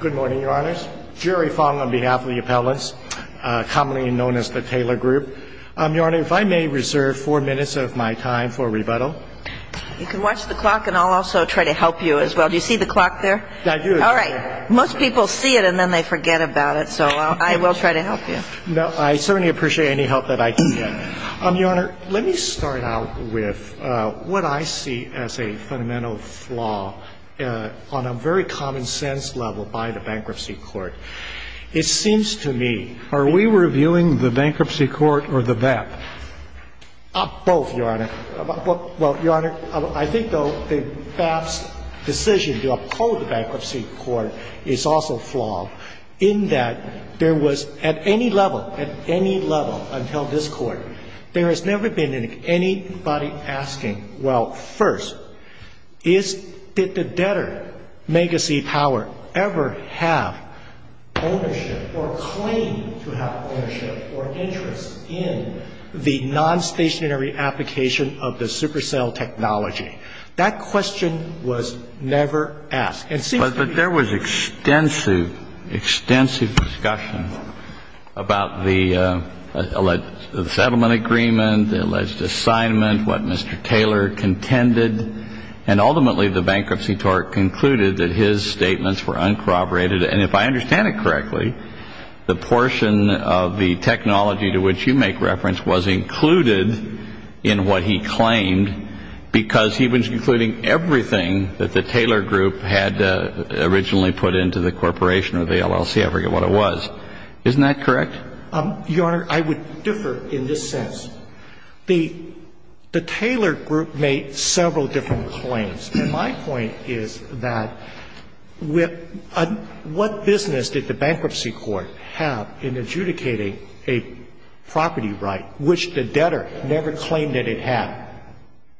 Good morning, Your Honors. Jerry Fong on behalf of the appellants, commonly known as the Taylor Group. Your Honor, if I may reserve four minutes of my time for rebuttal. You can watch the clock and I'll also try to help you as well. Do you see the clock there? I do. All right. Most people see it and then they forget about it, so I will try to help you. No, I certainly appreciate any help that I can get. Your Honor, let me start out with what I see as a fundamental flaw on a very common sense level by the Bankruptcy Court. It seems to me... Are we reviewing the Bankruptcy Court or the BAP? Both, Your Honor. Well, Your Honor, I think, though, the BAP's decision to uphold the Bankruptcy Court is also flawed in that there was at any level, at any level until this Court, there has never been anybody asking, well, first, did the debtor, Megacy Power, ever have ownership or claim to have ownership or interest in the nonstationary application of the supercell technology? That question was never asked. But there was extensive, extensive discussion about the settlement agreement, the alleged assignment, what Mr. Taylor contended, and ultimately the Bankruptcy Court concluded that his statements were uncorroborated. And if I understand it correctly, the portion of the technology to which you make reference was included in what he claimed because he was including everything that the Taylor group had originally put into the corporation or the LLC. I forget what it was. Isn't that correct? Your Honor, I would differ in this sense. The Taylor group made several different claims. And my point is that what business did the Bankruptcy Court have in adjudicating a property right which the debtor never claimed that it had?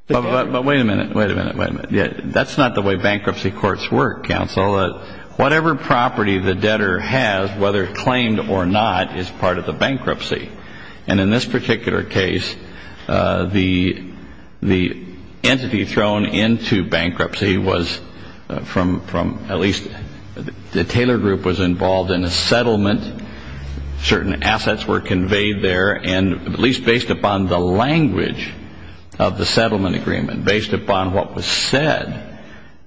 But wait a minute. Wait a minute. That's not the way Bankruptcy Courts work, counsel. Whatever property the debtor has, whether claimed or not, is part of the bankruptcy. And in this particular case, the entity thrown into bankruptcy was from at least the Taylor group was involved in a settlement. Certain assets were conveyed there, at least based upon the language of the settlement agreement, based upon what was said.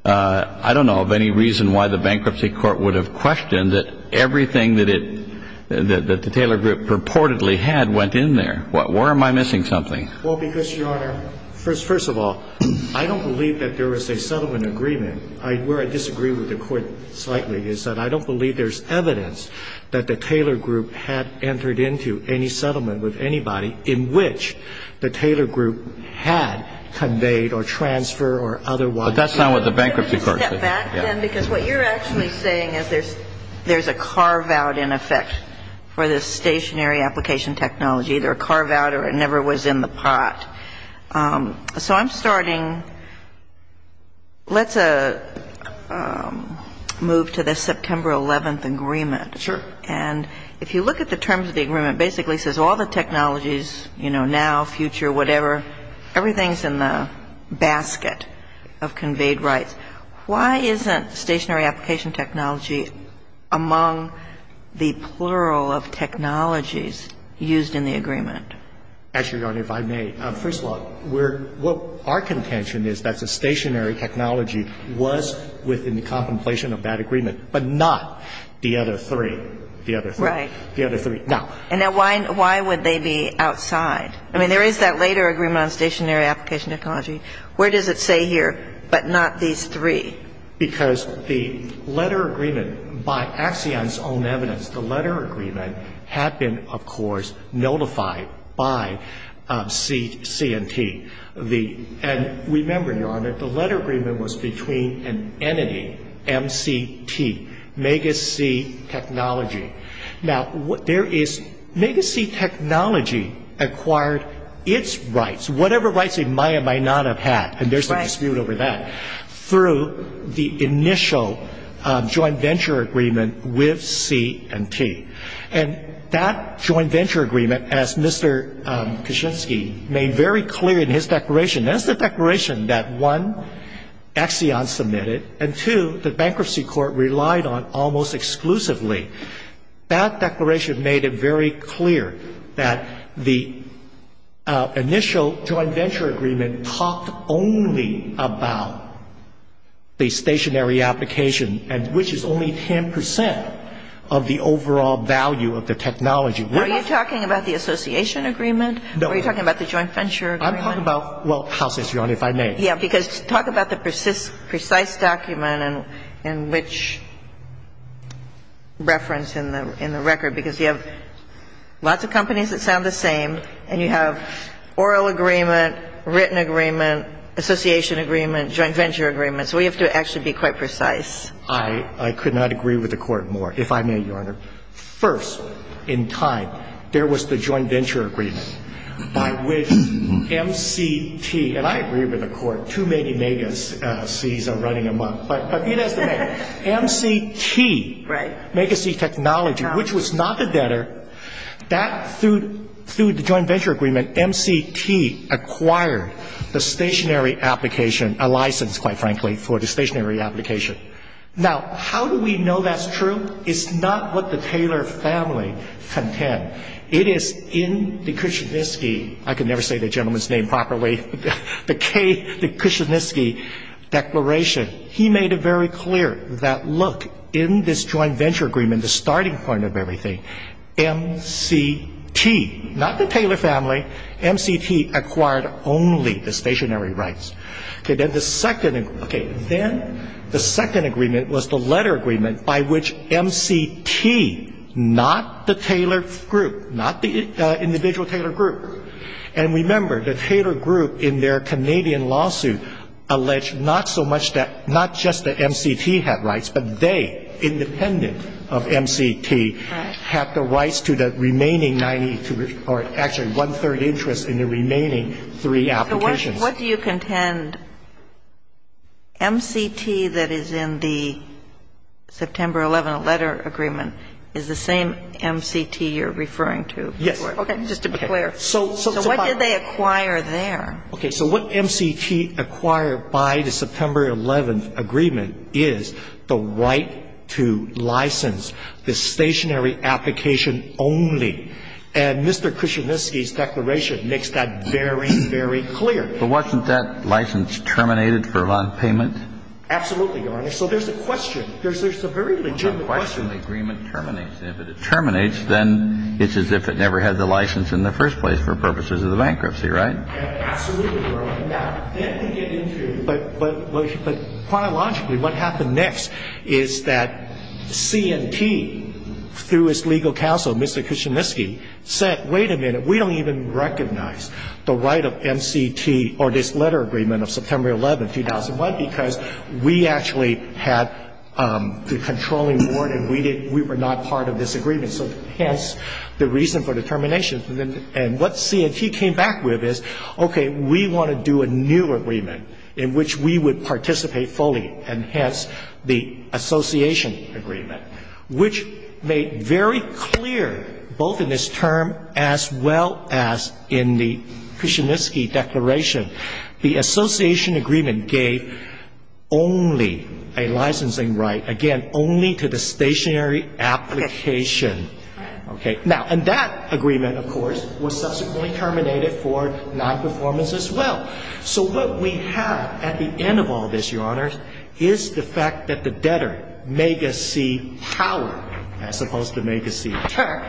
I don't know of any reason why the Bankruptcy Court would have questioned that everything that the Taylor group purportedly had went in there. Why am I missing something? Well, because, Your Honor, first of all, I don't believe that there was a settlement agreement. Where I disagree with the Court slightly is that I don't believe there's evidence that the Taylor group had entered into any settlement with anybody in which the Taylor group had conveyed or transfer or otherwise. But that's not what the Bankruptcy Court said. Step back, then, because what you're actually saying is there's a carve-out, in effect, for this stationary application technology, either a carve-out or it never was in the pot. So I'm starting. Let's move to the September 11th agreement. Sure. And if you look at the terms of the agreement, it basically says all the technologies, you know, now, future, whatever, everything's in the basket of conveyed rights. Why isn't stationary application technology among the plural of technologies used in the agreement? Actually, Your Honor, if I may, first of all, we're — what our contention is that the stationary technology was within the But not the other three. The other three. Right. The other three. Now — And now why would they be outside? I mean, there is that later agreement on stationary application technology. Where does it say here, but not these three? Because the letter agreement, by Axion's own evidence, the letter agreement had been, of course, notified by C&T. And remember, Your Honor, the letter agreement was between an entity, MCT, Mega-C Technology. Now, there is — Mega-C Technology acquired its rights, whatever rights it might or might not have had, and there's a dispute over that, through the initial joint venture agreement with C&T. And that joint venture agreement, as Mr. Kaczynski made very clear in his declaration, that's the declaration that, one, Axion submitted, and, two, the bankruptcy court relied on almost exclusively. That declaration made it very clear that the initial joint venture agreement talked only about the stationary application, which is only 10 percent of the overall value of the technology. Are you talking about the association agreement? No. Are you talking about the joint venture agreement? I'm talking about — well, House, Your Honor, if I may. Yeah, because talk about the precise document and which reference in the record, because you have lots of companies that sound the same, and you have oral agreement, written agreement, association agreement, joint venture agreement. So we have to actually be quite precise. I could not agree with the Court more. If I may, Your Honor. First, in time, there was the joint venture agreement by which MCT — and I agree with the Court. Too many Mega-Cs are running amok. But he does the math. MCT — Right. Mega-C Technology, which was not the debtor, that, through the joint venture agreement, MCT acquired the stationary application — a license, quite frankly, for the stationary application. Now, how do we know that's true? It's not what the Taylor family contend. It is in the Kuczynski — I can never say the gentleman's name properly — the K — the Kuczynski declaration. He made it very clear that, look, in this joint venture agreement, the starting point of everything, MCT — not the Taylor family — MCT acquired only the stationary rights. Okay. Then the second — okay. Then the second agreement was the letter agreement by which MCT, not the Taylor group, not the individual Taylor group — and remember, the Taylor group, in their Canadian lawsuit, alleged not so much that — not just that MCT had rights, but they, independent of MCT, had the rights to the remaining 92 — or, actually, one-third interest in the remaining three applications. So what do you contend MCT that is in the September 11 letter agreement is the same MCT you're referring to? Yes. Okay. Just to be clear. So what did they acquire there? Okay. So what MCT acquired by the September 11 agreement is the right to license the stationary application only. And Mr. Kuczynski's declaration makes that very, very clear. But wasn't that license terminated for nonpayment? Absolutely, Your Honor. So there's a question. There's a very legitimate question. There's a question the agreement terminates. And if it terminates, then it's as if it never had the license in the first place for purposes of the bankruptcy, right? Absolutely, Your Honor. Now, then to get into — but chronologically, what happened next is that C&T, through its legal counsel, Mr. Kuczynski, said, wait a minute, we don't even recognize the right of MCT or this letter agreement of September 11, 2001 because we actually had the controlling board and we were not part of this agreement. So hence the reason for the termination. And what C&T came back with is, okay, we want to do a new agreement in which we would participate fully, and hence the association agreement, which made very clear, both in this term as well as in the Kuczynski declaration, the association agreement gave only a licensing right, again, only to the stationary application. Okay. Now, and that agreement, of course, was subsequently terminated for nonperformance as well. So what we have at the end of all this, Your Honors, is the fact that the debtor, Mega C. Power, as opposed to Mega C. Tech,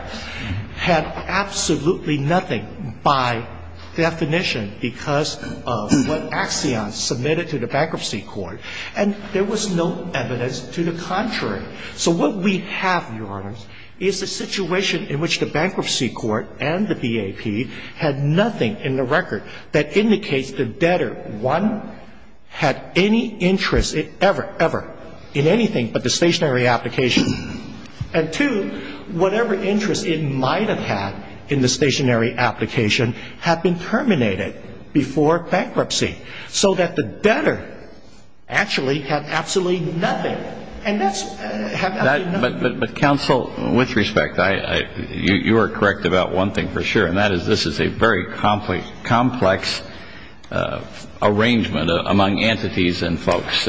had absolutely nothing by definition because of what Axion submitted to the Bankruptcy Court. And there was no evidence to the contrary. So what we have, Your Honors, is a situation in which the Bankruptcy Court and the BAP had nothing in the record that indicates the debtor, one, had any interest ever, ever in anything but the stationary application. And, two, whatever interest it might have had in the stationary application had been terminated before bankruptcy so that the debtor actually had absolutely nothing. But, Counsel, with respect, you are correct about one thing for sure, and that is this is a very complex arrangement among entities and folks.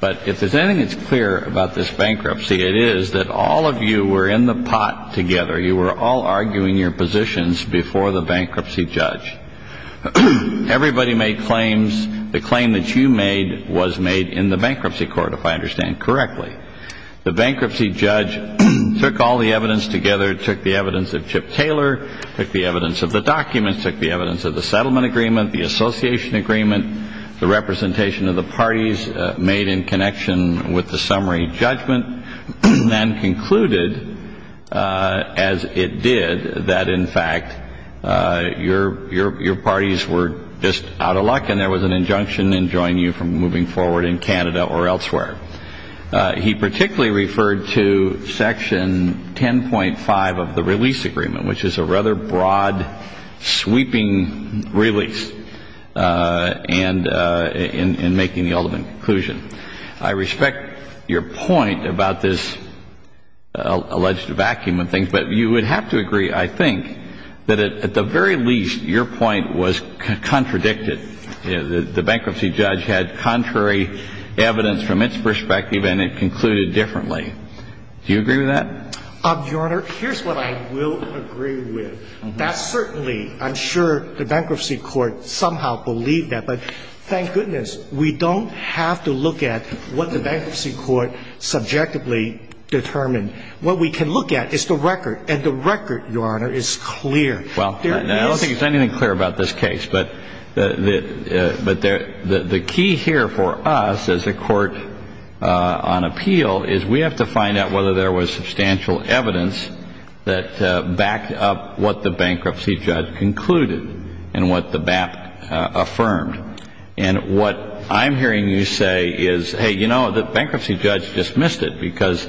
But if there's anything that's clear about this bankruptcy, it is that all of you were in the pot together. You were all arguing your positions before the bankruptcy judge. Everybody made claims. The claim that you made was made in the Bankruptcy Court, if I understand correctly. The bankruptcy judge took all the evidence together, took the evidence of Chip Taylor, took the evidence of the documents, took the evidence of the settlement agreement, the association agreement, the representation of the parties made in connection with the summary judgment, and concluded, as it did, that, in fact, your parties were just out of luck and there was an injunction enjoining you from moving forward in Canada or elsewhere. He particularly referred to Section 10.5 of the Release Agreement, which is a rather broad, sweeping release in making the ultimate conclusion. I respect your point about this alleged vacuum of things, but you would have to agree, I think, that at the very least, your point was contradicted. The bankruptcy judge had contrary evidence from its perspective, and it concluded differently. Do you agree with that? Your Honor, here's what I will agree with. That certainly, I'm sure the Bankruptcy Court somehow believed that. But thank goodness we don't have to look at what the Bankruptcy Court subjectively determined. What we can look at is the record, and the record, Your Honor, is clear. Well, I don't think there's anything clear about this case. But the key here for us as a court on appeal is we have to find out whether there was substantial evidence that backed up what the bankruptcy judge concluded and what the BAPT affirmed. And what I'm hearing you say is, hey, you know, the bankruptcy judge dismissed it because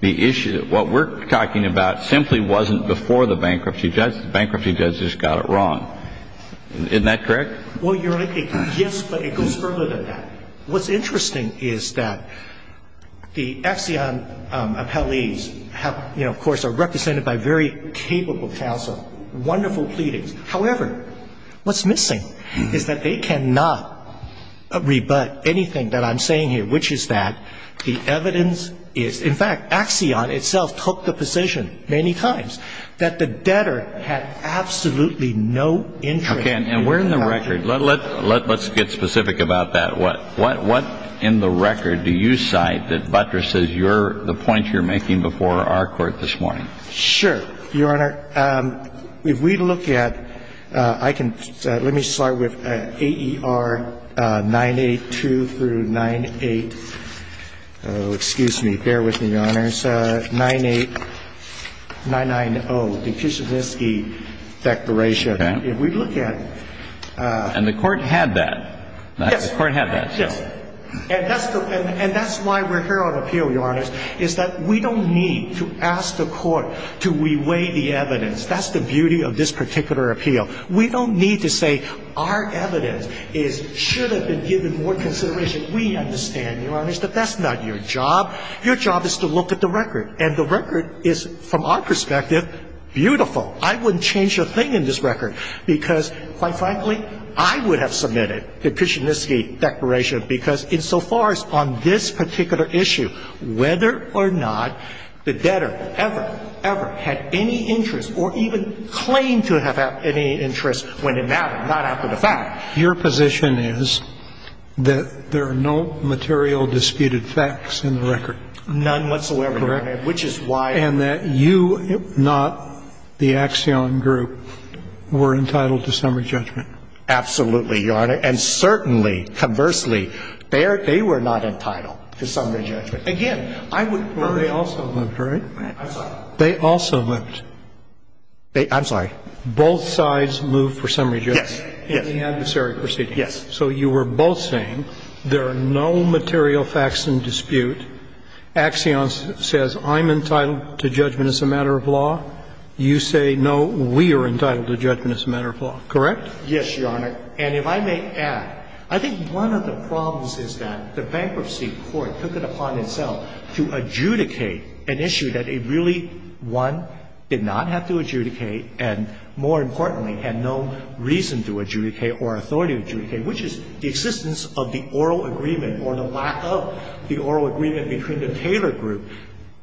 the issue, what we're talking about simply wasn't before the bankruptcy judge. The bankruptcy judge just got it wrong. Isn't that correct? Well, Your Honor, yes, but it goes further than that. What's interesting is that the Axion appellees have, you know, of course, are represented by very capable counsel, wonderful pleadings. However, what's missing is that they cannot rebut anything that I'm saying here, which is that the evidence is, in fact, Axion itself took the position many times that the debtor had absolutely no interest. Okay, and we're in the record. Let's get specific about that. What in the record do you cite that buttresses the point you're making before our court this morning? Sure, Your Honor. If we look at – I can – let me start with AER 982 through 98 – oh, excuse me. Bear with me, Your Honors. 98 – 990, the Kishinevsky Declaration. Okay. If we look at – And the Court had that. Yes. The Court had that. Yes. And that's the – and that's why we're here on appeal, Your Honors, is that we don't need to ask the Court to reweigh the evidence. That's the beauty of this particular appeal. We don't need to say our evidence is – should have been given more consideration. We understand, Your Honors, that that's not your job. Your job is to look at the record, and the record is, from our perspective, beautiful. I wouldn't change a thing in this record because, quite frankly, I would have submitted the Kishinevsky Declaration because, insofar as on this particular issue, whether or not the debtor ever, ever had any interest or even claimed to have had any interest when it mattered, not after the fact. Your position is that there are no material disputed facts in the record? None whatsoever, Your Honor, which is why – And that you, not the Axion group, were entitled to summary judgment? Absolutely, Your Honor. And certainly, conversely, they were not entitled to summary judgment. Again, I would – Well, they also moved, right? I'm sorry. They also moved. I'm sorry. Both sides moved for summary judgment? Yes. In the adversary proceedings? Yes. So you were both saying there are no material facts in dispute. Axion says, I'm entitled to judgment as a matter of law. You say, no, we are entitled to judgment as a matter of law, correct? Yes, Your Honor. And if I may add, I think one of the problems is that the Bankruptcy Court took it upon itself to adjudicate an issue that it really, one, did not have to adjudicate and, more importantly, had no reason to adjudicate or authority to adjudicate, which is the existence of the oral agreement or the lack of the oral agreement between the Taylor group,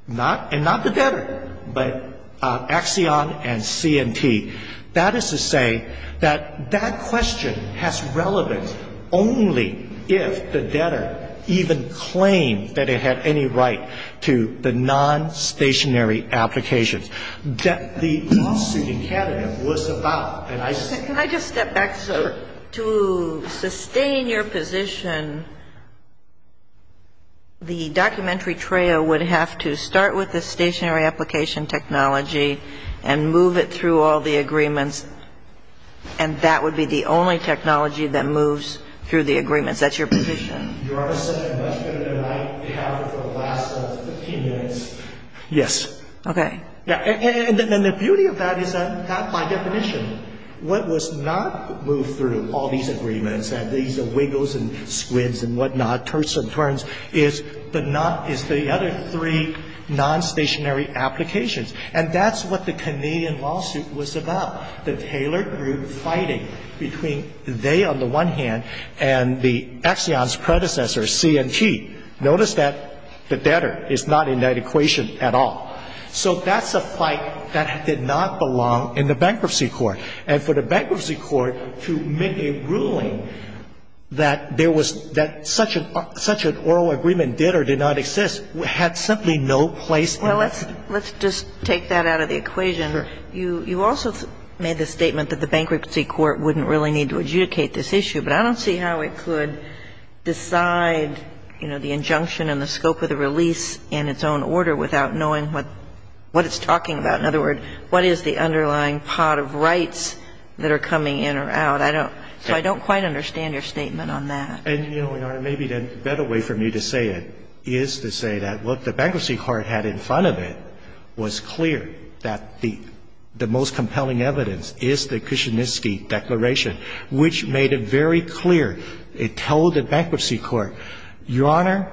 not – and not the debtor, but Axion and C&T. That is to say that that question has relevance only if the debtor even claimed that it had any right to the nonstationary applications that the lawsuit in Canada was about. Can I just step back, sir? Sure. To sustain your position, the documentary TREA would have to start with the stationary application technology and move it through all the agreements, and that would be the only technology that moves through the agreements. That's your position? Your Honor said it much better than I have for the last 15 minutes. Yes. Okay. And the beauty of that is that, by definition, what was not moved through all these agreements and these wiggles and squids and whatnot, turds and turns, is the not – is the other three nonstationary applications. And that's what the Canadian lawsuit was about, the Taylor group fighting between they, on the one hand, and the Axion's predecessor, C&T. Notice that the debtor is not in that equation at all. So that's a fight that did not belong in the bankruptcy court. And for the bankruptcy court to make a ruling that there was – that such an oral agreement did or did not exist had simply no place in that. Well, let's just take that out of the equation. Sure. You also made the statement that the bankruptcy court wouldn't really need to adjudicate this issue, but I don't see how it could decide, you know, the injunction and the scope of the release in its own order without knowing what it's talking about. In other words, what is the underlying pot of rights that are coming in or out? I don't – so I don't quite understand your statement on that. And, Your Honor, maybe the better way for me to say it is to say that what the bankruptcy court had in front of it was clear, that the most compelling evidence is the Kuczynski declaration, which made it very clear. It told the bankruptcy court, Your Honor,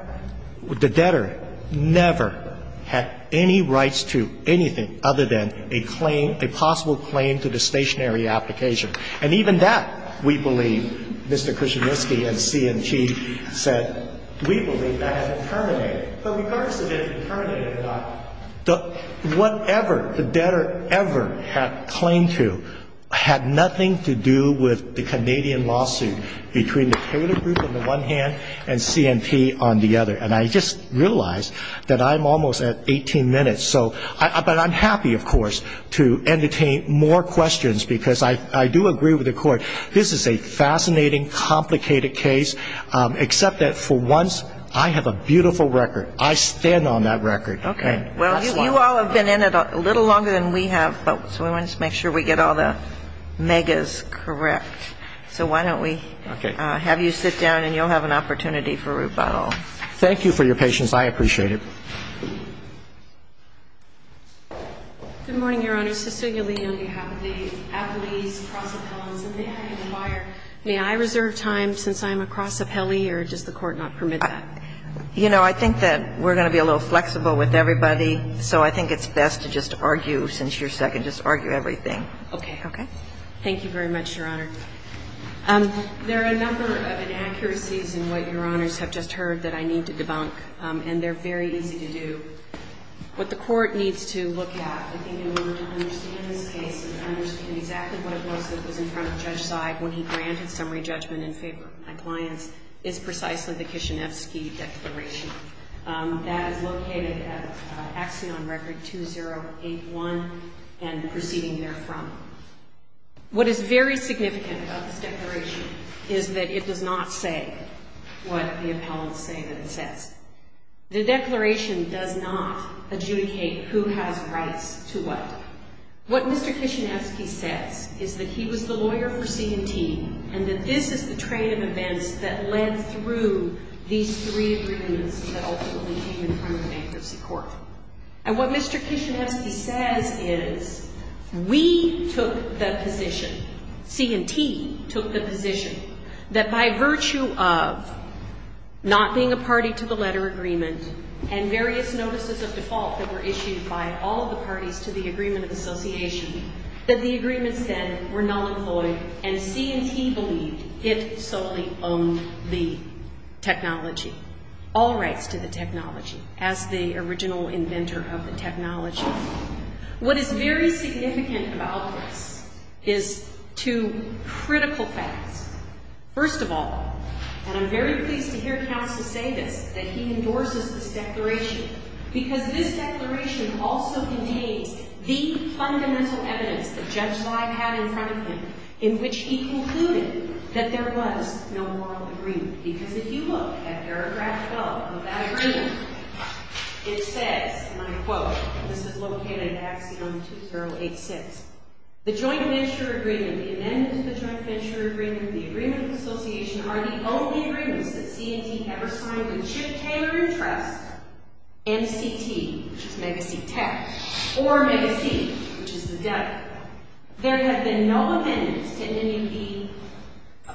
the debtor never had any rights to anything other than a claim, a possible claim to the stationary application. And even that, we believe, Mr. Kuczynski and C&T said, we believe that has been terminated. But regardless of if it terminated or not, whatever the debtor ever had claimed to had nothing to do with the Canadian lawsuit between the Taylor Group on the one hand and C&T on the other. And I just realized that I'm almost at 18 minutes. So – but I'm happy, of course, to entertain more questions, because I do agree with the Court. This is a fascinating, complicated case, except that for once, I have a beautiful record. I stand on that record. And that's why. I think we all have been in it a little longer than we have, but we want to make sure we get all the megas correct. So why don't have you sit down and you'll have an opportunity for rebuttal. Thank you for your patience. I appreciate it. Good morning, Your Honor. Saskia Leone on behalf of the applicable cross-appellants. And may I inquire, may I reserve time since I'm a cross-appellee, or does the Court not permit that? You know, I think that we're going to be a little flexible with everybody, so I think it's best to just argue, since you're second, just argue everything. Okay. Okay? Thank you very much, Your Honor. There are a number of inaccuracies in what Your Honors have just heard that I need to debunk, and they're very easy to do. What the Court needs to look at, I think, in order to understand this case and understand exactly what it was that was in front of Judge Seib when he granted summary judgment in favor of my clients, is precisely the Kishinevsky Declaration. That is located at Axiom Record 2081 and proceeding therefrom. What is very significant about this declaration is that it does not say what the appellants say that it says. The declaration does not adjudicate who has rights to what. What Mr. Kishinevsky says is that he was the lawyer for C&T and that this is the train of events that led through these three agreements that ultimately came in front of bankruptcy court. And what Mr. Kishinevsky says is we took the position, C&T took the position, that by virtue of not being a party to the letter agreement and various notices of default that were issued by all of the parties to the agreement of association, that the agreements then were and C&T believed it solely owned the technology, all rights to the technology as the original inventor of the technology. What is very significant about this is two critical facts. First of all, and I'm very pleased to hear Counsel say this, that he endorses this declaration because this declaration also contains the fundamental evidence that Judge Seib had in which he concluded that there was no moral agreement. Because if you look at paragraph 12 of that agreement, it says, and I quote, this is located in Axiom 2086, the joint venture agreement, the amendments to the joint venture agreement of the agreement of association are the only agreements that C&T ever signed with Chip Taylor & Trust, MCT, which is Megacity Tech, or Megacity, which is the debtor. There have been no amendments to NMUP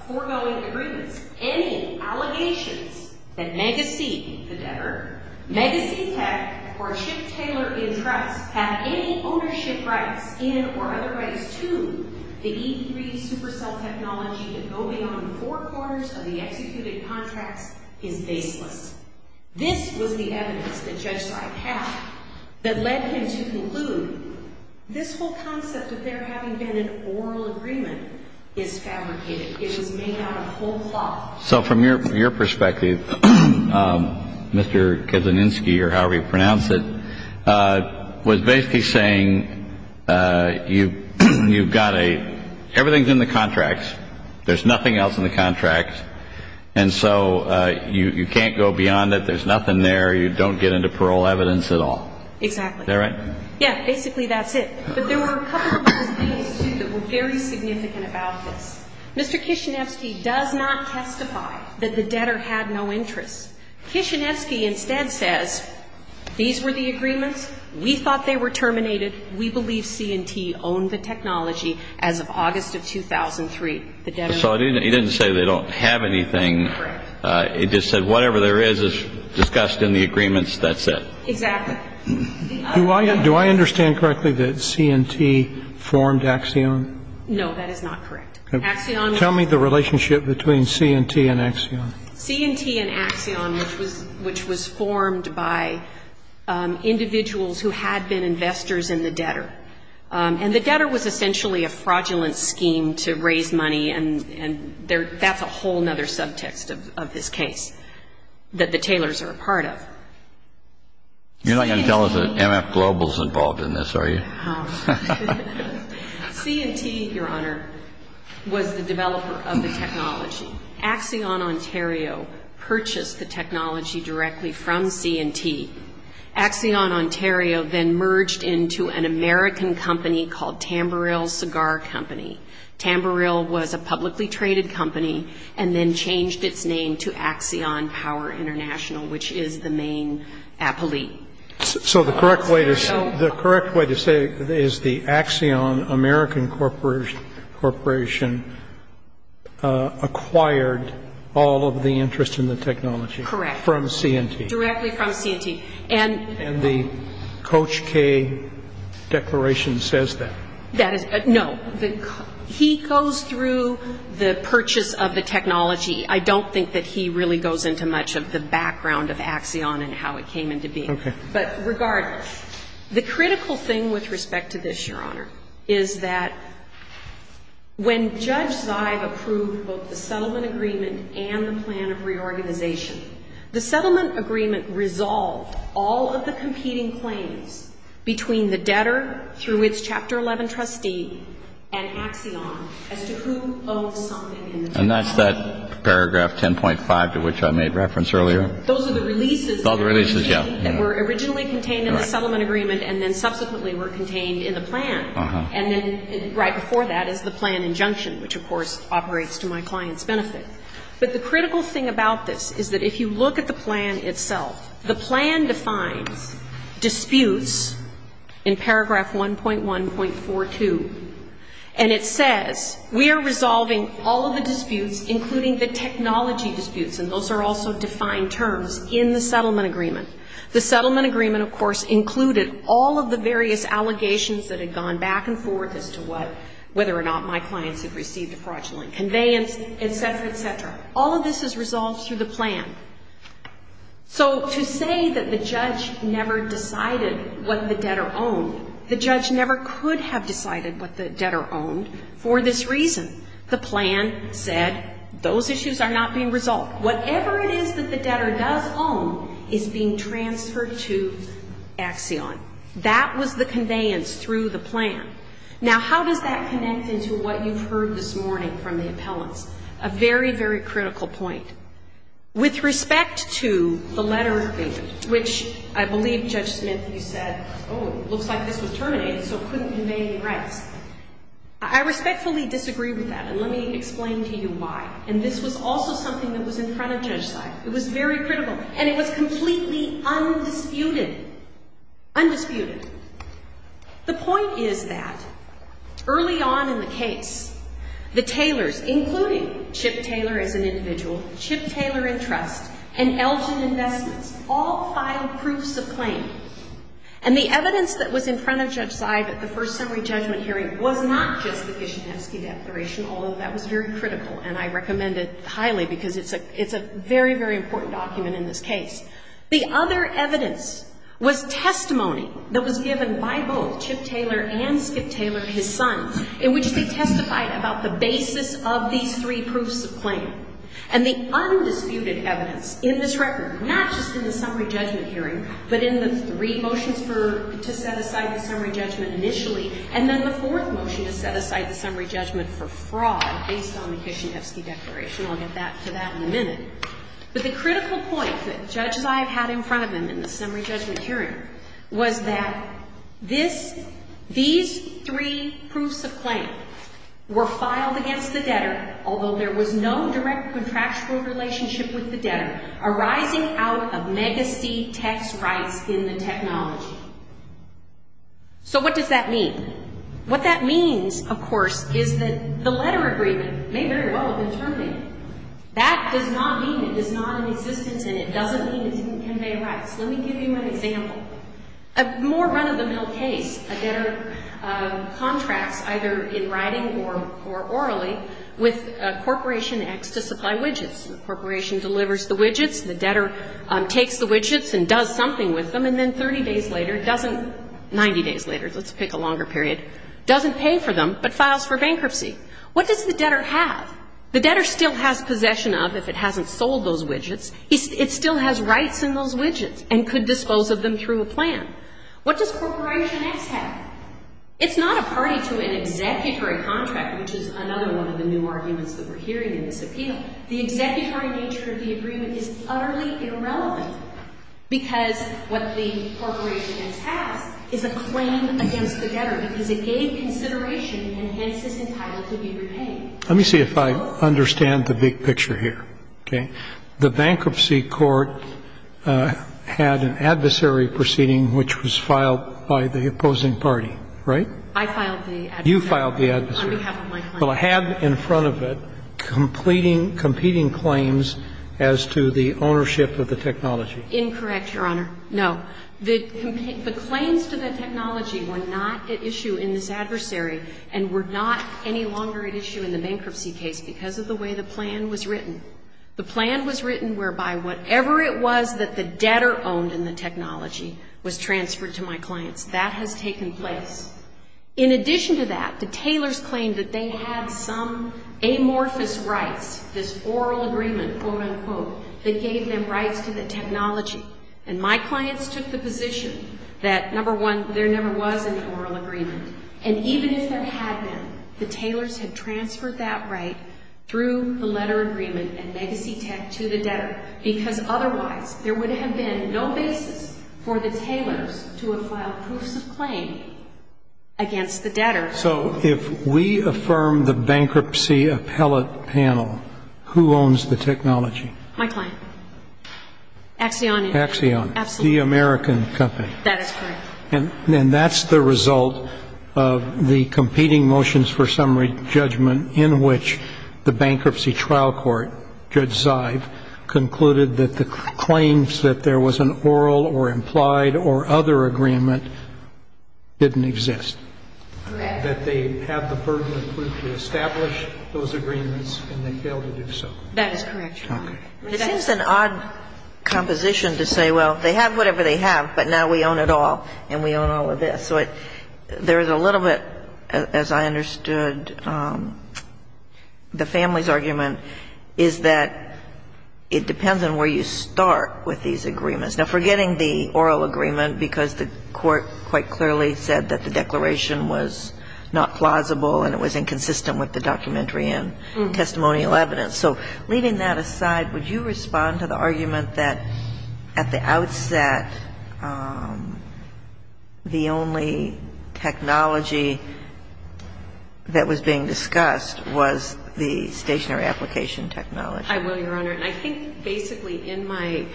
foregoing agreements. Any allegations that Megacity, the debtor, Megacity Tech, or Chip Taylor & Trust have any ownership rights in or otherwise to the E3 supercell technology that go beyond four quarters of the executed contracts is baseless. This was the evidence that Judge Seib had that led him to conclude this whole concept of there having been an oral agreement is fabricated. It was made out of whole cloth. So from your perspective, Mr. Kedzianinski, or however you pronounce it, was basically saying you've got a, everything's in the contracts, there's nothing else in the contracts, and so you can't go beyond it, there's nothing there, you don't get into parole evidence at all. Exactly. Is that right? Yeah, basically that's it. But there were a couple of other things, too, that were very significant about this. Mr. Kedzianinski does not testify that the debtor had no interest. Kedzianinski instead says, these were the agreements, we thought they were terminated, we believe C&T owned the technology as of August of 2003. So he didn't say they don't have anything. Correct. He just said whatever there is is discussed in the agreements, that's it. Exactly. Do I understand correctly that C&T formed Axion? No, that is not correct. Axion was. Tell me the relationship between C&T and Axion. C&T and Axion, which was formed by individuals who had been investors in the debtor. And the debtor was essentially a fraudulent scheme to raise money, and that's a whole other subtext of this case that the Taylors are a part of. You're not going to tell us that MF Global is involved in this, are you? C&T, Your Honor, was the developer of the technology. Axion Ontario purchased the technology directly from C&T. Axion Ontario then merged into an American company called Tamburil Cigar Company. Tamburil was a publicly traded company and then changed its name to Axion Power International, which is the main appellate. So the correct way to say it is the Axion American Corporation acquired all of the interest in the technology. Correct. From C&T. Directly from C&T. And the Coach K Declaration says that. No. He goes through the purchase of the technology. I don't think that he really goes into much of the background of Axion and how it came into being. Okay. But regardless, the critical thing with respect to this, Your Honor, is that when Judge Zive approved both the settlement agreement and the plan of reorganization, the settlement agreement resolved all of the competing claims between the debtor, through its Chapter 11 trustee, and Axion as to who owns something in the technology. And that's that paragraph 10.5 to which I made reference earlier. Those are the releases. Those are the releases, yeah. That were originally contained in the settlement agreement and then subsequently were contained in the plan. And then right before that is the plan injunction, which, of course, operates to my client's benefit. But the critical thing about this is that if you look at the plan itself, the plan defines disputes in paragraph 1.1.42, and it says we are resolving all of the disputes, including the technology disputes, and those are also defined terms in the settlement agreement. The settlement agreement, of course, included all of the various allegations that had gone back and forth as to whether or not my clients had received a fraudulent conveyance, et cetera, et cetera. All of this is resolved through the plan. So to say that the judge never decided what the debtor owned, the judge never could have decided what the debtor owned for this reason. The plan said those issues are not being resolved. Whatever it is that the debtor does own is being transferred to Axion. That was the conveyance through the plan. Now, how does that connect into what you've heard this morning from the appellants? A very, very critical point. With respect to the letter agreement, which I believe, Judge Smith, you said, oh, it looks like this was terminated so it couldn't convey any rights. I respectfully disagree with that, and let me explain to you why. And this was also something that was in front of Judge Seib. It was very critical, and it was completely undisputed. Undisputed. The point is that early on in the case, the tailors, including Chip Taylor as an individual, Chip Taylor and Trust, and Elgin Investments, all filed proofs of claim. And the evidence that was in front of Judge Seib at the first summary judgment hearing was not just the Kishinevsky Declaration, although that was very critical, and I recommend it highly because it's a very, very important document in this case. The other evidence was testimony that was given by both Chip Taylor and Skip Taylor, his sons, in which they testified about the basis of these three proofs of claim. And the undisputed evidence in this record, not just in the summary judgment hearing, but in the three motions to set aside the summary judgment initially, and then the fourth motion to set aside the summary judgment for fraud based on the Kishinevsky Declaration. I'll get back to that in a minute. But the critical point that Judge Seib had in front of him in the summary judgment hearing was that these three proofs of claim were filed against the debtor, although there was no direct contractual relationship with the debtor, arising out of mega C tax rights in the technology. So what does that mean? What that means, of course, is that the letter agreement may very well have been terminated. That does not mean it is not in existence, and it doesn't mean it didn't convey rights. Let me give you an example. A more run-of-the-mill case, a debtor contracts either in writing or orally with Corporation X to supply widgets. The corporation delivers the widgets, the debtor takes the widgets and does something with them, and then 30 days later doesn't, 90 days later, let's pick a longer period, doesn't pay for them but files for bankruptcy. What does the debtor have? The debtor still has possession of, if it hasn't sold those widgets, it still has rights in those widgets and could dispose of them through a plan. What does Corporation X have? It's not a party to an executory contract, which is another one of the new arguments that we're hearing in this appeal. The executory nature of the agreement is utterly irrelevant because what the Corporation X has is a claim against the debtor, because it gave consideration and hence is entitled to be repaid. Let me see if I understand the big picture here. Okay. The bankruptcy court had an adversary proceeding which was filed by the opposing party, right? I filed the adversary. You filed the adversary. On behalf of my client. Well, I had in front of it completing, competing claims as to the ownership of the technology. Incorrect, Your Honor. No. The claims to the technology were not at issue in this adversary and were not any longer at issue in the bankruptcy case because of the way the plan was written. The plan was written whereby whatever it was that the debtor owned in the technology was transferred to my clients. That has taken place. In addition to that, the tailors claimed that they had some amorphous rights, this oral agreement, quote, unquote, that gave them rights to the technology. And my clients took the position that, number one, there never was an oral agreement. And even if there had been, the tailors had transferred that right through the letter agreement and legacy tech to the debtor because otherwise there would have been no basis for the tailors to have filed proofs of claim against the debtor. So if we affirm the bankruptcy appellate panel, who owns the technology? My client. Axion. Axion. Absolutely. The American company. That is correct. And that's the result of the competing motions for summary judgment in which the claim that there was an oral or implied or other agreement didn't exist. Correct. That they had the burden of proof to establish those agreements and they failed to do so. That is correct, Your Honor. Okay. This is an odd composition to say, well, they have whatever they have, but now we own it all and we own all of this. So there is a little bit, as I understood the family's argument, is that it depends on where you start with these agreements. Now, forgetting the oral agreement because the court quite clearly said that the declaration was not plausible and it was inconsistent with the documentary and testimonial evidence. So leaving that aside, would you respond to the argument that at the outset the only technology that was being discussed was the stationary application technology? I will, Your Honor. And I think basically in my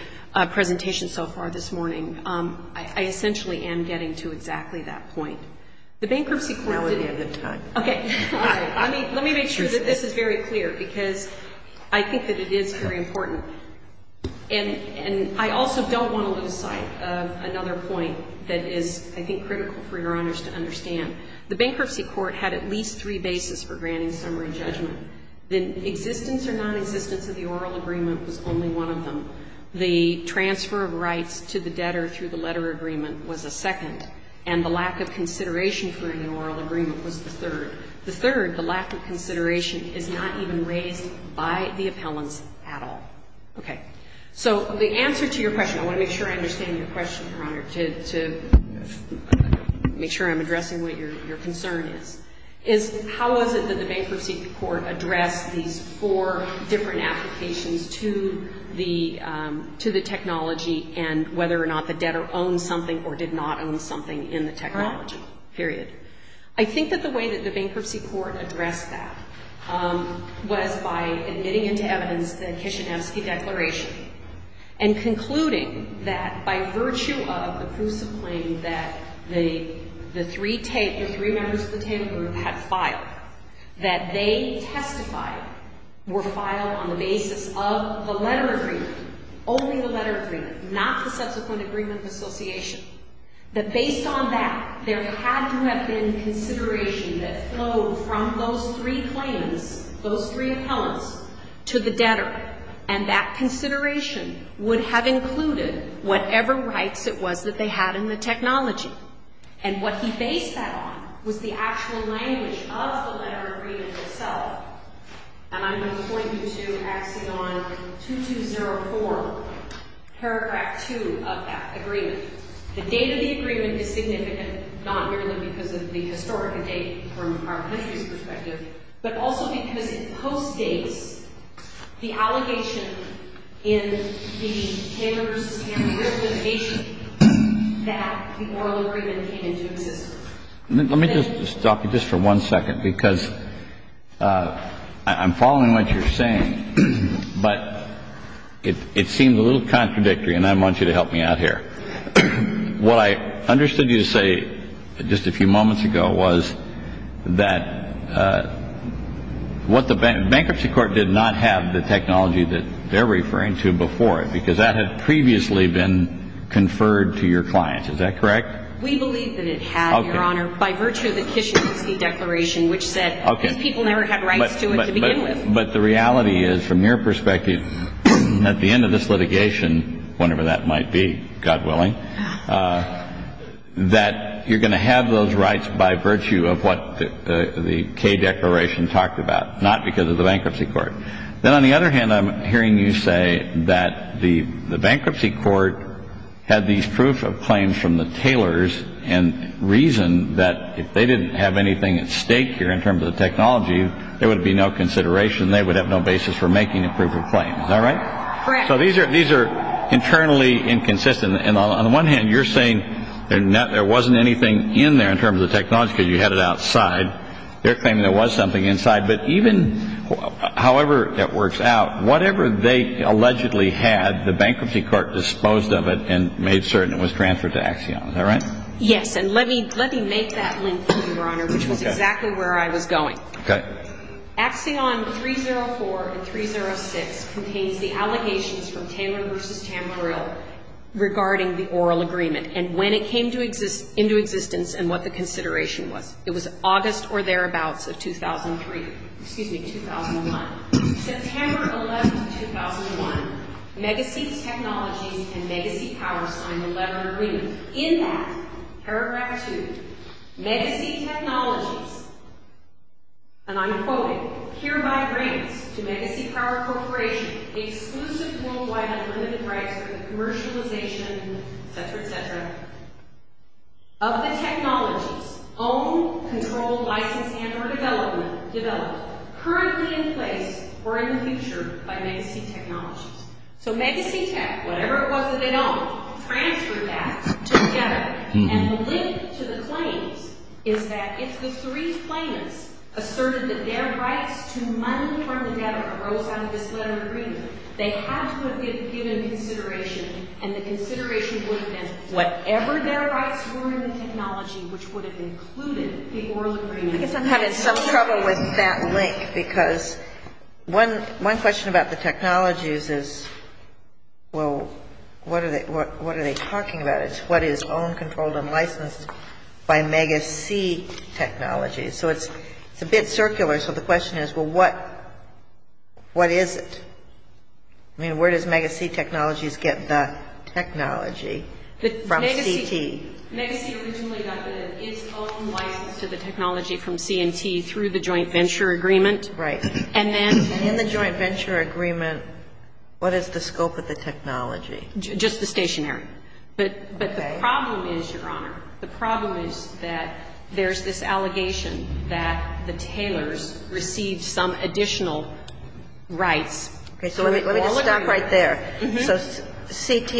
presentation so far this morning, I essentially am getting to exactly that point. The bankruptcy court didn't. Now would be a good time. Okay. Let me make sure that this is very clear because I think that it is very important. And I also don't want to lose sight of another point that is, I think, critical for Your Honors to understand. The bankruptcy court had at least three bases for granting summary judgment. The existence or nonexistence of the oral agreement was only one of them. The transfer of rights to the debtor through the letter agreement was a second, and the lack of consideration for an oral agreement was the third. The third, the lack of consideration is not even raised by the appellants at all. Okay. So the answer to your question, I want to make sure I understand your question, Your Honor, to make sure I'm addressing what your concern is, is how is it that the bankruptcy court addressed these four different applications to the technology and whether or not the debtor owned something or did not own something in the technology, period. I think that the way that the bankruptcy court addressed that was by admitting into evidence the Kishinevsky Declaration and concluding that by virtue of the proofs of claim that the three members of the table group had filed, that they testified were filed on the basis of the letter agreement, only the letter agreement, not the subsequent agreement of association, that based on that there had to have been consideration that flowed from those three claims, those three appellants, to the debtor. And that consideration would have included whatever rights it was that they had in the technology. And what he based that on was the actual language of the letter agreement itself. And I'm going to point you to Axiom 2204, paragraph 2 of that agreement. The date of the agreement is significant, not merely because of the historic date from our country's perspective, but also because it postdates the allegation in the Taylor v. Tamriel litigation that the oral agreement came into existence. Let me just stop you just for one second, because I'm following what you're saying, but it seems a little contradictory and I want you to help me out here. What I understood you to say just a few moments ago was that what the bankruptcy court did not have the technology that they're referring to before it, because that had previously been conferred to your clients. Is that correct? We believe that it had, Your Honor, by virtue of the Kishinevsky Declaration, which said these people never had rights to it to begin with. But the reality is, from your perspective, at the end of this litigation, whenever that might be, God willing, that you're going to have those rights by virtue of what the K Declaration talked about, not because of the bankruptcy court. Then on the other hand, I'm hearing you say that the bankruptcy court had these proof of claims from the Taylors and reasoned that if they didn't have anything at stake here in terms of the technology, there would be no consideration. They would have no basis for making a proof of claim. All right. So these are these are internally inconsistent. And on the one hand, you're saying there wasn't anything in there in terms of technology. You had it outside. They're claiming there was something inside. But even however it works out, whatever they allegedly had, the bankruptcy court disposed of it and made certain it was transferred to Axion. All right. Yes. And let me let me make that link, Your Honor, which was exactly where I was going. Okay. Axion 304 and 306 contains the allegations from Taylor v. Tam Grill regarding the oral agreement and when it came into existence and what the consideration was. It was August or thereabouts of 2003. Excuse me, 2001. September 11, 2001, Megacy Technologies and Megacy Power signed a letter of agreement. In that paragraph two, Megacy Technologies, and I'm quoting, hereby grants to Megacy Power Corporation exclusive worldwide unlimited rights for the commercialization, et cetera, et cetera, of the technology's own controlled license and or development developed currently in place or in the future by Megacy Technologies. So Megacy Tech, whatever it was that they owned, transferred that to the debtor. And the link to the claims is that if the three claimants asserted that their rights to money from the debtor arose out of this letter of agreement, they had to have been given consideration, and the consideration would have been whatever their rights were in the technology, which would have included the oral agreement. I guess I'm having some trouble with that link, because one question about the technologies is, well, what are they talking about? It's what is owned, controlled, and licensed by Megacy Technologies. So it's a bit circular. So the question is, well, what is it? I mean, where does Megacy Technologies get the technology from CT? Megacy originally got its own license to the technology from C&T through the joint venture agreement. Right. And then the joint venture agreement. What is the scope of the technology? Just the stationary. But the problem is, Your Honor, the problem is that there's this allegation that the tailors received some additional rights. Okay. So let me just stop right there. So CT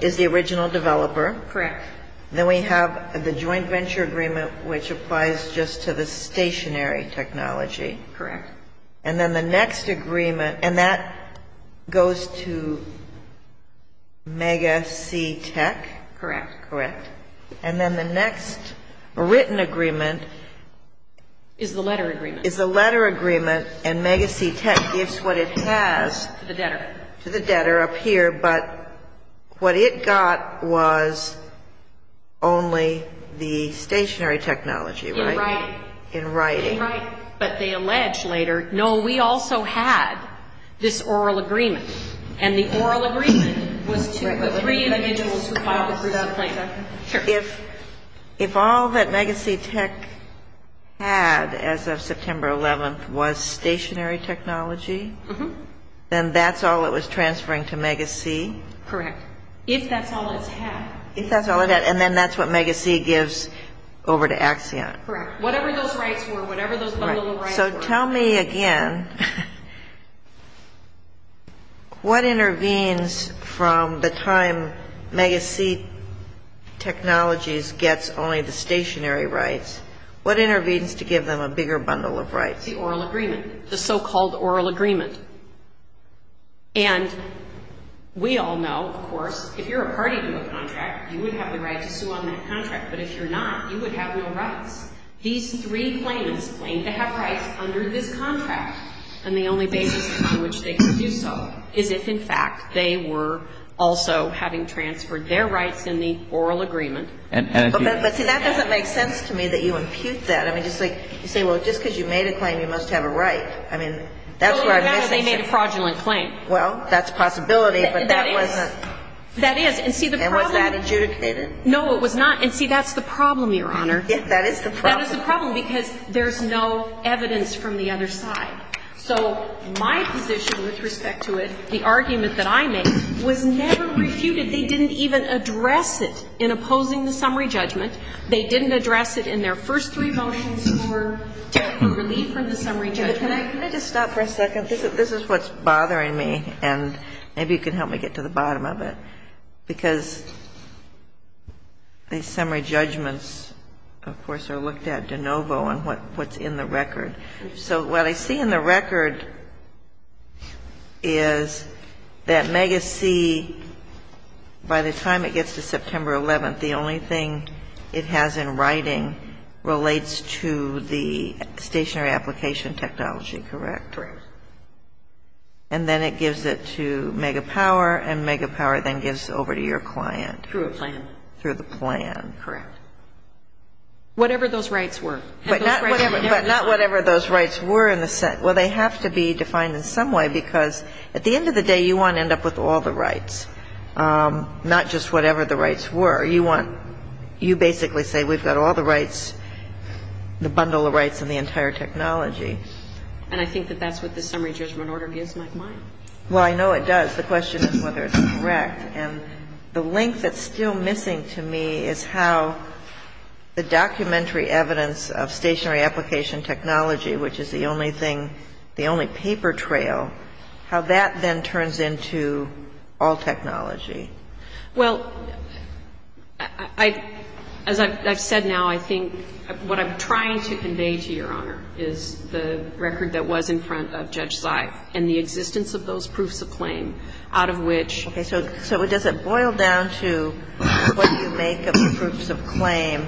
is the original developer. Correct. Then we have the joint venture agreement, which applies just to the stationary technology. Correct. And then the next agreement, and that goes to Megacy Tech. Correct. Correct. And then the next written agreement. Is the letter agreement. Is the letter agreement, and Megacy Tech gives what it has. To the debtor. To the debtor up here, but what it got was only the stationary technology, right? In writing. In writing. In writing. But they allege later, no, we also had this oral agreement. And the oral agreement was to the three individuals who filed the 3,000-point claim. If all that Megacy Tech had as of September 11th was stationary technology, then that's all it was transferring to Megacy? Correct. If that's all it's had. If that's all it had. And then that's what Megacy gives over to Axion. Correct. Whatever those rights were, whatever those little rights were. Okay, so tell me again, what intervenes from the time Megacy Technologies gets only the stationary rights? What intervenes to give them a bigger bundle of rights? The oral agreement. The so-called oral agreement. And we all know, of course, if you're a party to a contract, you would have the right to sue on that contract. But if you're not, you would have no rights. These three claimants claim to have rights under this contract. And the only basis on which they could do so is if, in fact, they were also having transferred their rights in the oral agreement. But, see, that doesn't make sense to me that you impute that. I mean, just like you say, well, just because you made a claim, you must have a right. I mean, that's where I'm missing something. Well, they made a fraudulent claim. Well, that's a possibility, but that wasn't. That is. And see, the problem. And was that adjudicated? No, it was not. And see, that's the problem, Your Honor. That is the problem. That is the problem, because there's no evidence from the other side. So my position with respect to it, the argument that I made, was never refuted. They didn't even address it in opposing the summary judgment. They didn't address it in their first three motions for relief from the summary judgment. Can I just stop for a second? This is what's bothering me, and maybe you can help me get to the bottom of it. Because the summary judgments, of course, are looked at de novo and what's in the record. So what I see in the record is that Mega-C, by the time it gets to September 11th, the only thing it has in writing relates to the stationary application technology, correct? Correct. And then it gives it to Mega-Power, and Mega-Power then gives it over to your client. Through a plan. Through the plan, correct. Whatever those rights were. But not whatever those rights were. Well, they have to be defined in some way, because at the end of the day, you want to end up with all the rights, not just whatever the rights were. You basically say we've got all the rights, the bundle of rights and the entire technology. And I think that that's what the summary judgment order gives my mind. Well, I know it does. The question is whether it's correct. And the link that's still missing to me is how the documentary evidence of stationary application technology, which is the only thing, the only paper trail, how that then turns into all technology. Well, as I've said now, I think what I'm trying to convey to Your Honor is the record that was in front of Judge Zeig and the existence of those proofs of claim out of which. Okay. So does it boil down to what you make of the proofs of claim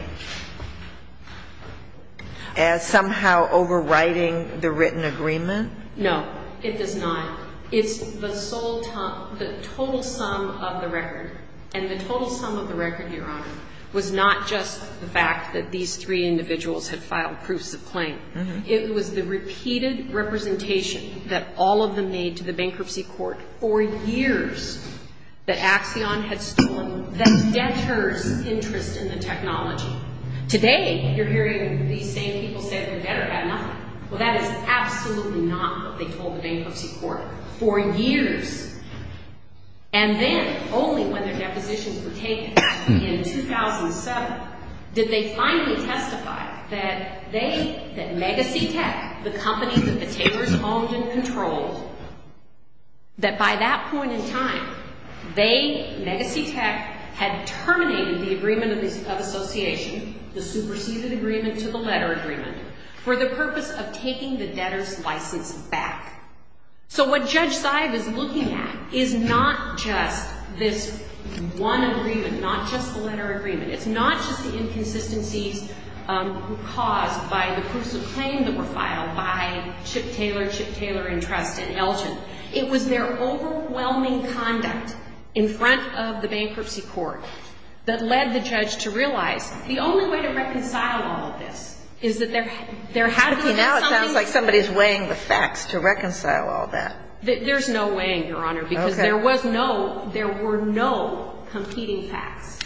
as somehow overriding the written agreement? No, it does not. It's the total sum of the record, and the total sum of the record, Your Honor, was not just the fact that these three individuals had filed proofs of claim. It was the repeated representation that all of them made to the bankruptcy court for years that Axion had stolen that debtors' interest in the technology. Today, you're hearing these same people say that the debtor had nothing. Well, that is absolutely not what they told the bankruptcy court for years. And then, only when their depositions were taken in 2007, did they finally testify that they, that Megacitec, the company that the takers owned and controlled, that by that point in time, they, Megacitec, had terminated the agreement of association, the superseded agreement to the letter agreement, for the purpose of taking the debtors' license back. So what Judge Sive is looking at is not just this one agreement, not just the letter agreement. It's not just the inconsistencies caused by the proofs of claim that were filed by Chip Taylor, Chip Taylor & Trust, and Elgin. It was their overwhelming conduct in front of the bankruptcy court that led the judge to realize the only way to reconcile all of this is that there had to be something to reconcile. Now it sounds like somebody's weighing the facts to reconcile all that. There's no weighing, Your Honor, because there was no, there were no competing facts.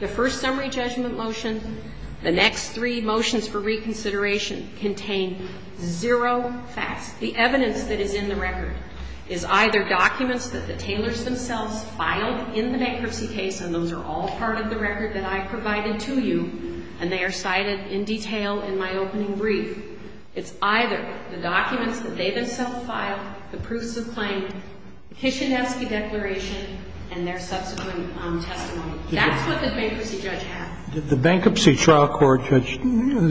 The first summary judgment motion, the next three motions for reconsideration contain zero facts. The evidence that is in the record is either documents that the Taylors themselves filed in the bankruptcy case, and those are all part of the record that I provided to you, and they are cited in detail in my opening brief. It's either the documents that they themselves filed, the proofs of claim, the Kishinevsky Declaration, and their subsequent testimony. That's what the bankruptcy judge had. Did the bankruptcy trial court, Judge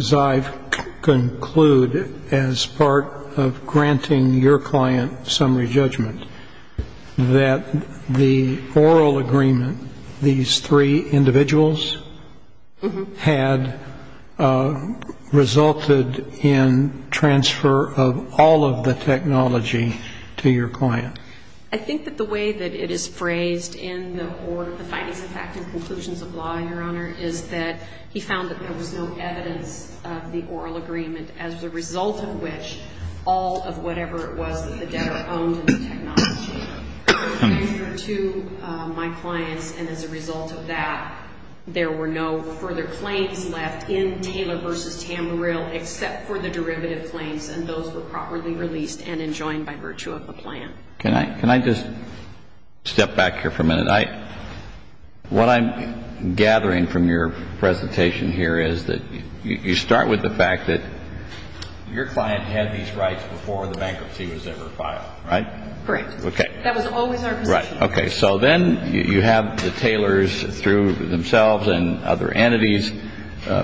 Sive, conclude as part of granting your client summary judgment that the oral agreement, these three individuals, had resulted in transfer of all of the technology to your client? I think that the way that it is phrased in the findings of fact and conclusions of law, Your Honor, is that he found that there was no evidence of the oral agreement as a result of which all of whatever it was that the debtor owned in the technology was transferred to my clients. And as a result of that, there were no further claims left in Taylor v. Tamarill except for the derivative claims, and those were properly released and enjoined by virtue of the plan. Can I just step back here for a minute? What I'm gathering from your presentation here is that you start with the fact that your client had these rights before the bankruptcy was ever filed, right? Correct. Okay. That was always our position. Right. Okay. So then you have the Taylors through themselves and other entities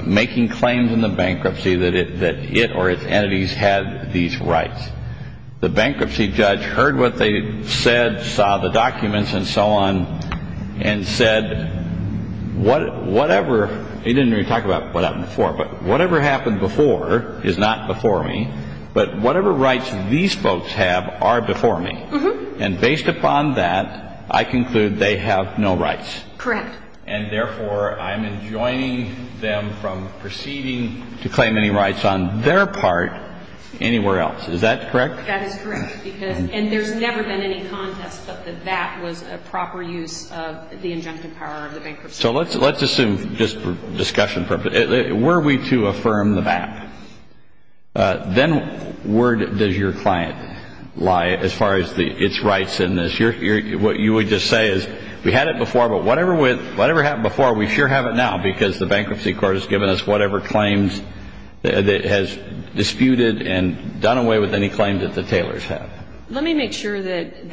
making claims in the bankruptcy that it or its entities had these rights. The bankruptcy judge heard what they said, saw the documents and so on, and said, whatever, he didn't even talk about what happened before, but whatever happened before is not before me, but whatever rights these folks have are before me. And based upon that, I conclude they have no rights. Correct. And therefore, I'm enjoining them from proceeding to claim any rights on their part anywhere else. Is that correct? That is correct. And there's never been any contest that that was a proper use of the injunctive power of the bankruptcy. So let's assume, just for discussion purposes, were we to affirm the back, then where does your client lie as far as its rights in this? What you would just say is we had it before, but whatever happened before, we sure have it now because the bankruptcy court has given us whatever claims that it has disputed and done away with any claims that the Taylors have. Let me make sure that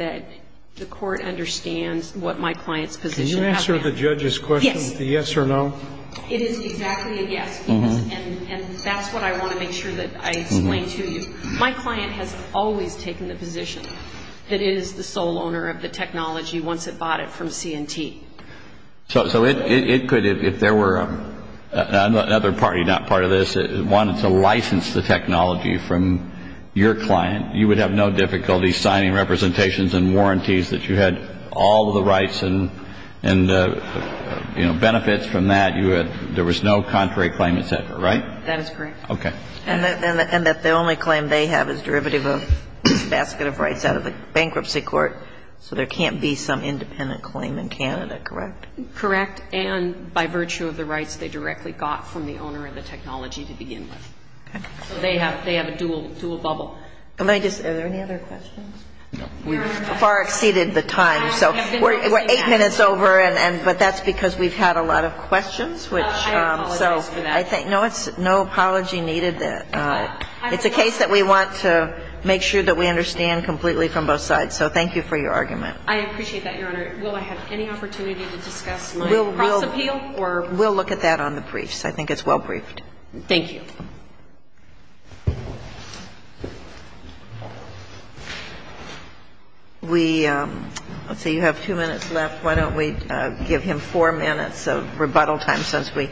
the court understands what my client's position has been. Can you answer the judge's question? Yes. The yes or no? It is exactly a yes, and that's what I want to make sure that I explain to you. My client has always taken the position that it is the sole owner of the technology once it bought it from C&T. So it could, if there were another party not part of this that wanted to license the technology from your client, you would have no difficulty signing representations and warranties that you had all the rights and, you know, benefits from that. There was no contrary claim, et cetera, right? That is correct. Okay. And that the only claim they have is derivative of this basket of rights out of the bankruptcy court, so there can't be some independent claim in Canada, correct? Correct. And by virtue of the rights they directly got from the owner of the technology to begin with. So they have a dual bubble. Are there any other questions? No. We've far exceeded the time. So we're eight minutes over, but that's because we've had a lot of questions. I apologize for that. No, it's no apology needed. It's a case that we want to make sure that we understand completely from both sides. So thank you for your argument. I appreciate that, Your Honor. Will I have any opportunity to discuss my cross appeal? We'll look at that on the briefs. I think it's well briefed. Thank you. We, let's see, you have two minutes left. Why don't we give him four minutes of rebuttal time since we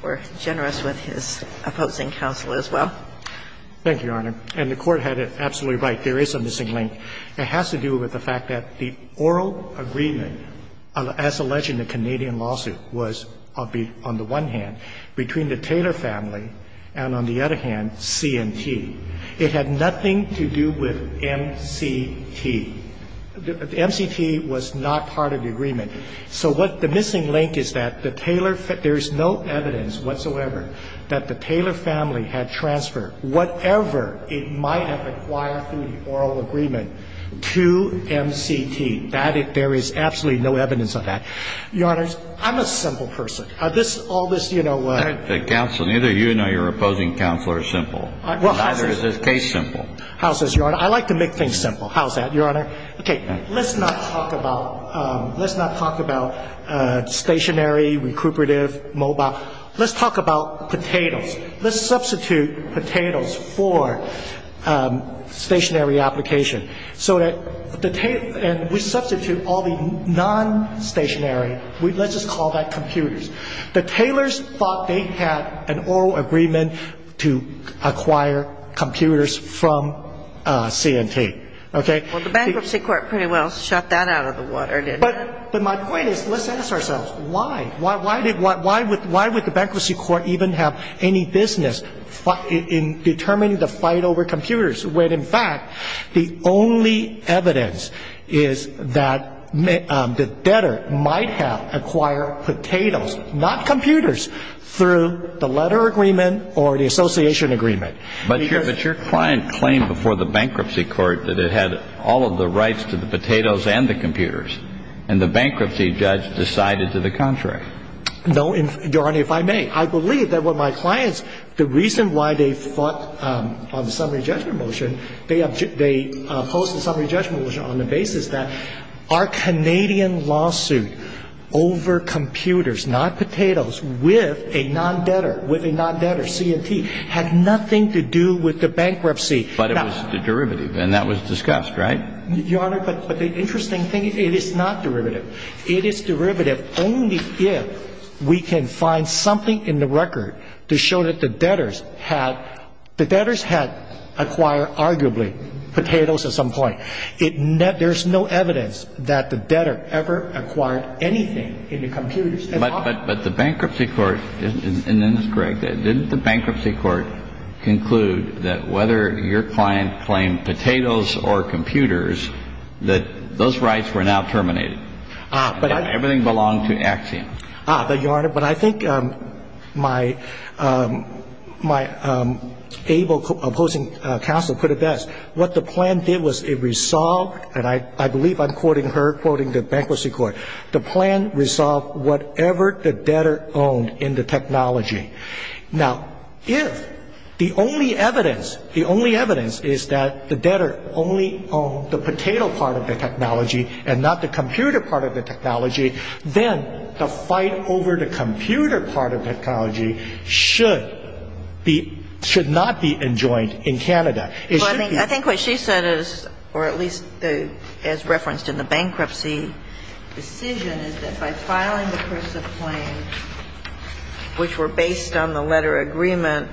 were generous with his opposing counsel as well. Thank you, Your Honor. And the Court had it absolutely right. There is a missing link. It has to do with the fact that the oral agreement, as alleged in the Canadian lawsuit, was on the one hand between the Taylor family and on the other hand, C&T. It had nothing to do with MCT. The MCT was not part of the agreement. So what the missing link is that the Taylor family, there is no evidence whatsoever that the Taylor family had transferred whatever it might have acquired through the oral agreement to MCT. There is absolutely no evidence of that. Your Honor, I'm a simple person. All this, you know. The counsel, neither you nor your opposing counsel are simple. Neither is this case simple. How is this, Your Honor? I like to make things simple. How is that, Your Honor? Okay. Let's not talk about stationary, recuperative, mobile. Let's talk about potatoes. Let's substitute potatoes for stationary application. And we substitute all the non-stationary. Let's just call that computers. The Taylors thought they had an oral agreement to acquire computers from C&T. Well, the bankruptcy court pretty well shot that out of the water, didn't it? But my point is, let's ask ourselves, why? Why would the bankruptcy court even have any business in determining the fight over computers when, in fact, the only evidence is that the debtor might have acquired potatoes, not computers, through the letter agreement or the association agreement? But your client claimed before the bankruptcy court that it had all of the rights to the potatoes and the computers. And the bankruptcy judge decided to the contrary. No, Your Honor, if I may. I believe that what my clients, the reason why they fought on the summary judgment motion, they opposed the summary judgment motion on the basis that our Canadian lawsuit over computers, not potatoes, with a non-debtor, with a non-debtor, C&T, had nothing to do with the bankruptcy. But it was the derivative, and that was discussed, right? Your Honor, but the interesting thing, it is not derivative. It is derivative only if we can find something in the record to show that the debtors had, the debtors had acquired arguably potatoes at some point. There's no evidence that the debtor ever acquired anything in the computers at all. But the bankruptcy court, and this is correct, didn't the bankruptcy court conclude that whether your client claimed potatoes or computers, that those rights were now terminated? Everything belonged to Axiom. But, Your Honor, but I think my able opposing counsel put it best. What the plan did was it resolved, and I believe I'm quoting her, quoting the bankruptcy court, the plan resolved whatever the debtor owned in the technology. Now, if the only evidence, the only evidence is that the debtor only owned the potato part of the technology and not the computer part of the technology, then the fight over the computer part of the technology should be, should not be enjoined in Canada. It should be. But I think what she said is, or at least as referenced in the bankruptcy decision, is that by filing the cursive claim, which were based on the letter agreement,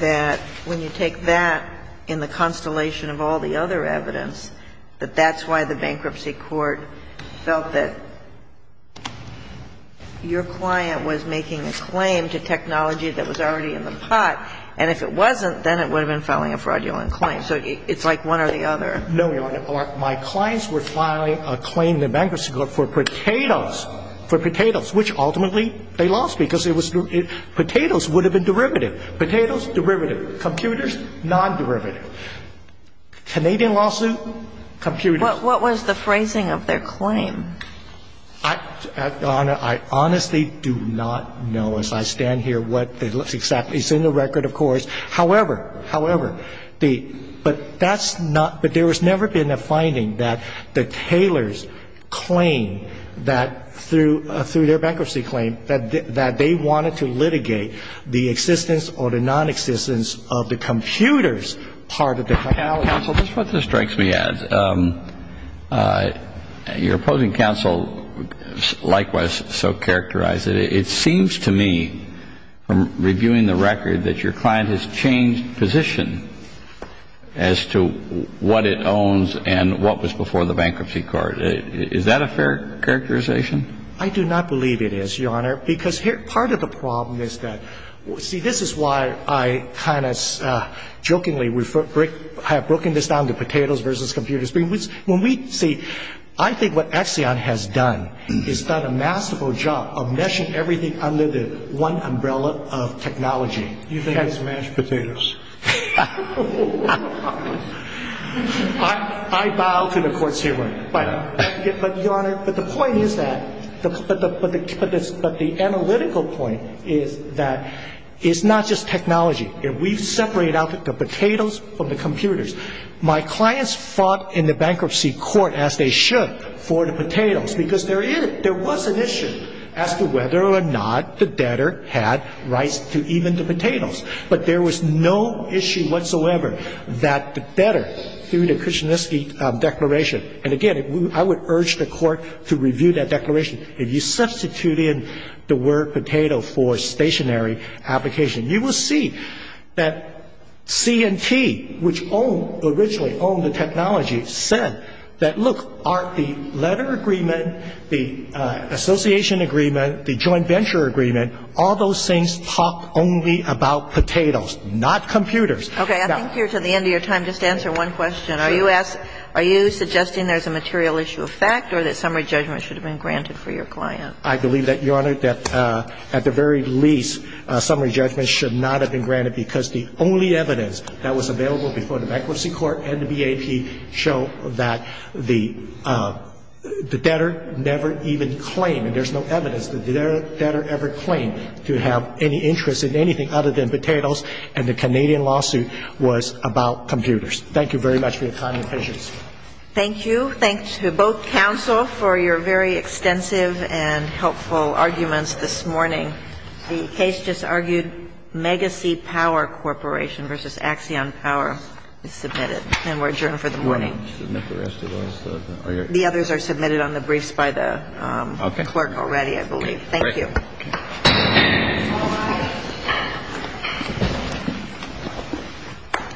that when you take that in the constellation of all the other evidence, that that's why the bankruptcy court felt that your client was making a claim to technology that was already in the pot. And if it wasn't, then it would have been filing a fraudulent claim. So it's like one or the other. No, Your Honor. My clients were filing a claim in the bankruptcy court for potatoes, for potatoes, which ultimately they lost because it was, potatoes would have been derivative. Potatoes, derivative. Computers, non-derivative. Canadian lawsuit, computers. What was the phrasing of their claim? I, Your Honor, I honestly do not know as I stand here what exactly. It's in the record, of course. However, however, the, but that's not, but there has never been a finding that the Taylors claim that through their bankruptcy claim that they wanted to litigate the existence or the non-existence of the computers part of the claim. Counsel, this is what strikes me as. Your opposing counsel likewise so characterized it. It seems to me from reviewing the record that your client has changed position as to what it owns and what was before the bankruptcy court. Is that a fair characterization? I do not believe it is, Your Honor, because part of the problem is that, see, this is why I kind of jokingly have broken this down to potatoes versus computers. When we see, I think what Exxon has done is done a masterful job of meshing everything under the one umbrella of technology. You think it's mashed potatoes? I bow to the court's hearing. But, Your Honor, but the point is that, but the analytical point is that it's not just technology. My clients fought in the bankruptcy court as they should for the potatoes because there is, there was an issue as to whether or not the debtor had rights to even the potatoes. But there was no issue whatsoever that the debtor, through the Krishnansky Declaration, and, again, I would urge the Court to review that declaration. If you substitute in the word potato for stationary application, you will see that C&T, which originally owned the technology, said that, look, the letter agreement, the association agreement, the joint venture agreement, all those things talk only about potatoes, not computers. Okay. I think you're to the end of your time. Just answer one question. Sure. Are you suggesting there's a material issue of fact or that summary judgment should have been granted for your client? I believe that, Your Honor, that at the very least, summary judgment should not have been granted because the only evidence that was available before the bankruptcy court and the BAP show that the debtor never even claimed, and there's no evidence that the debtor ever claimed to have any interest in anything other than potatoes, and the Canadian lawsuit was about computers. Thank you very much for your time and patience. Thank you. Thank you to both counsel for your very extensive and helpful arguments this morning. The case just argued, Megacy Power Corporation v. Axion Power is submitted. And we're adjourned for the morning. You want to submit the rest of those? The others are submitted on the briefs by the clerk already, I believe. Thank you. Okay.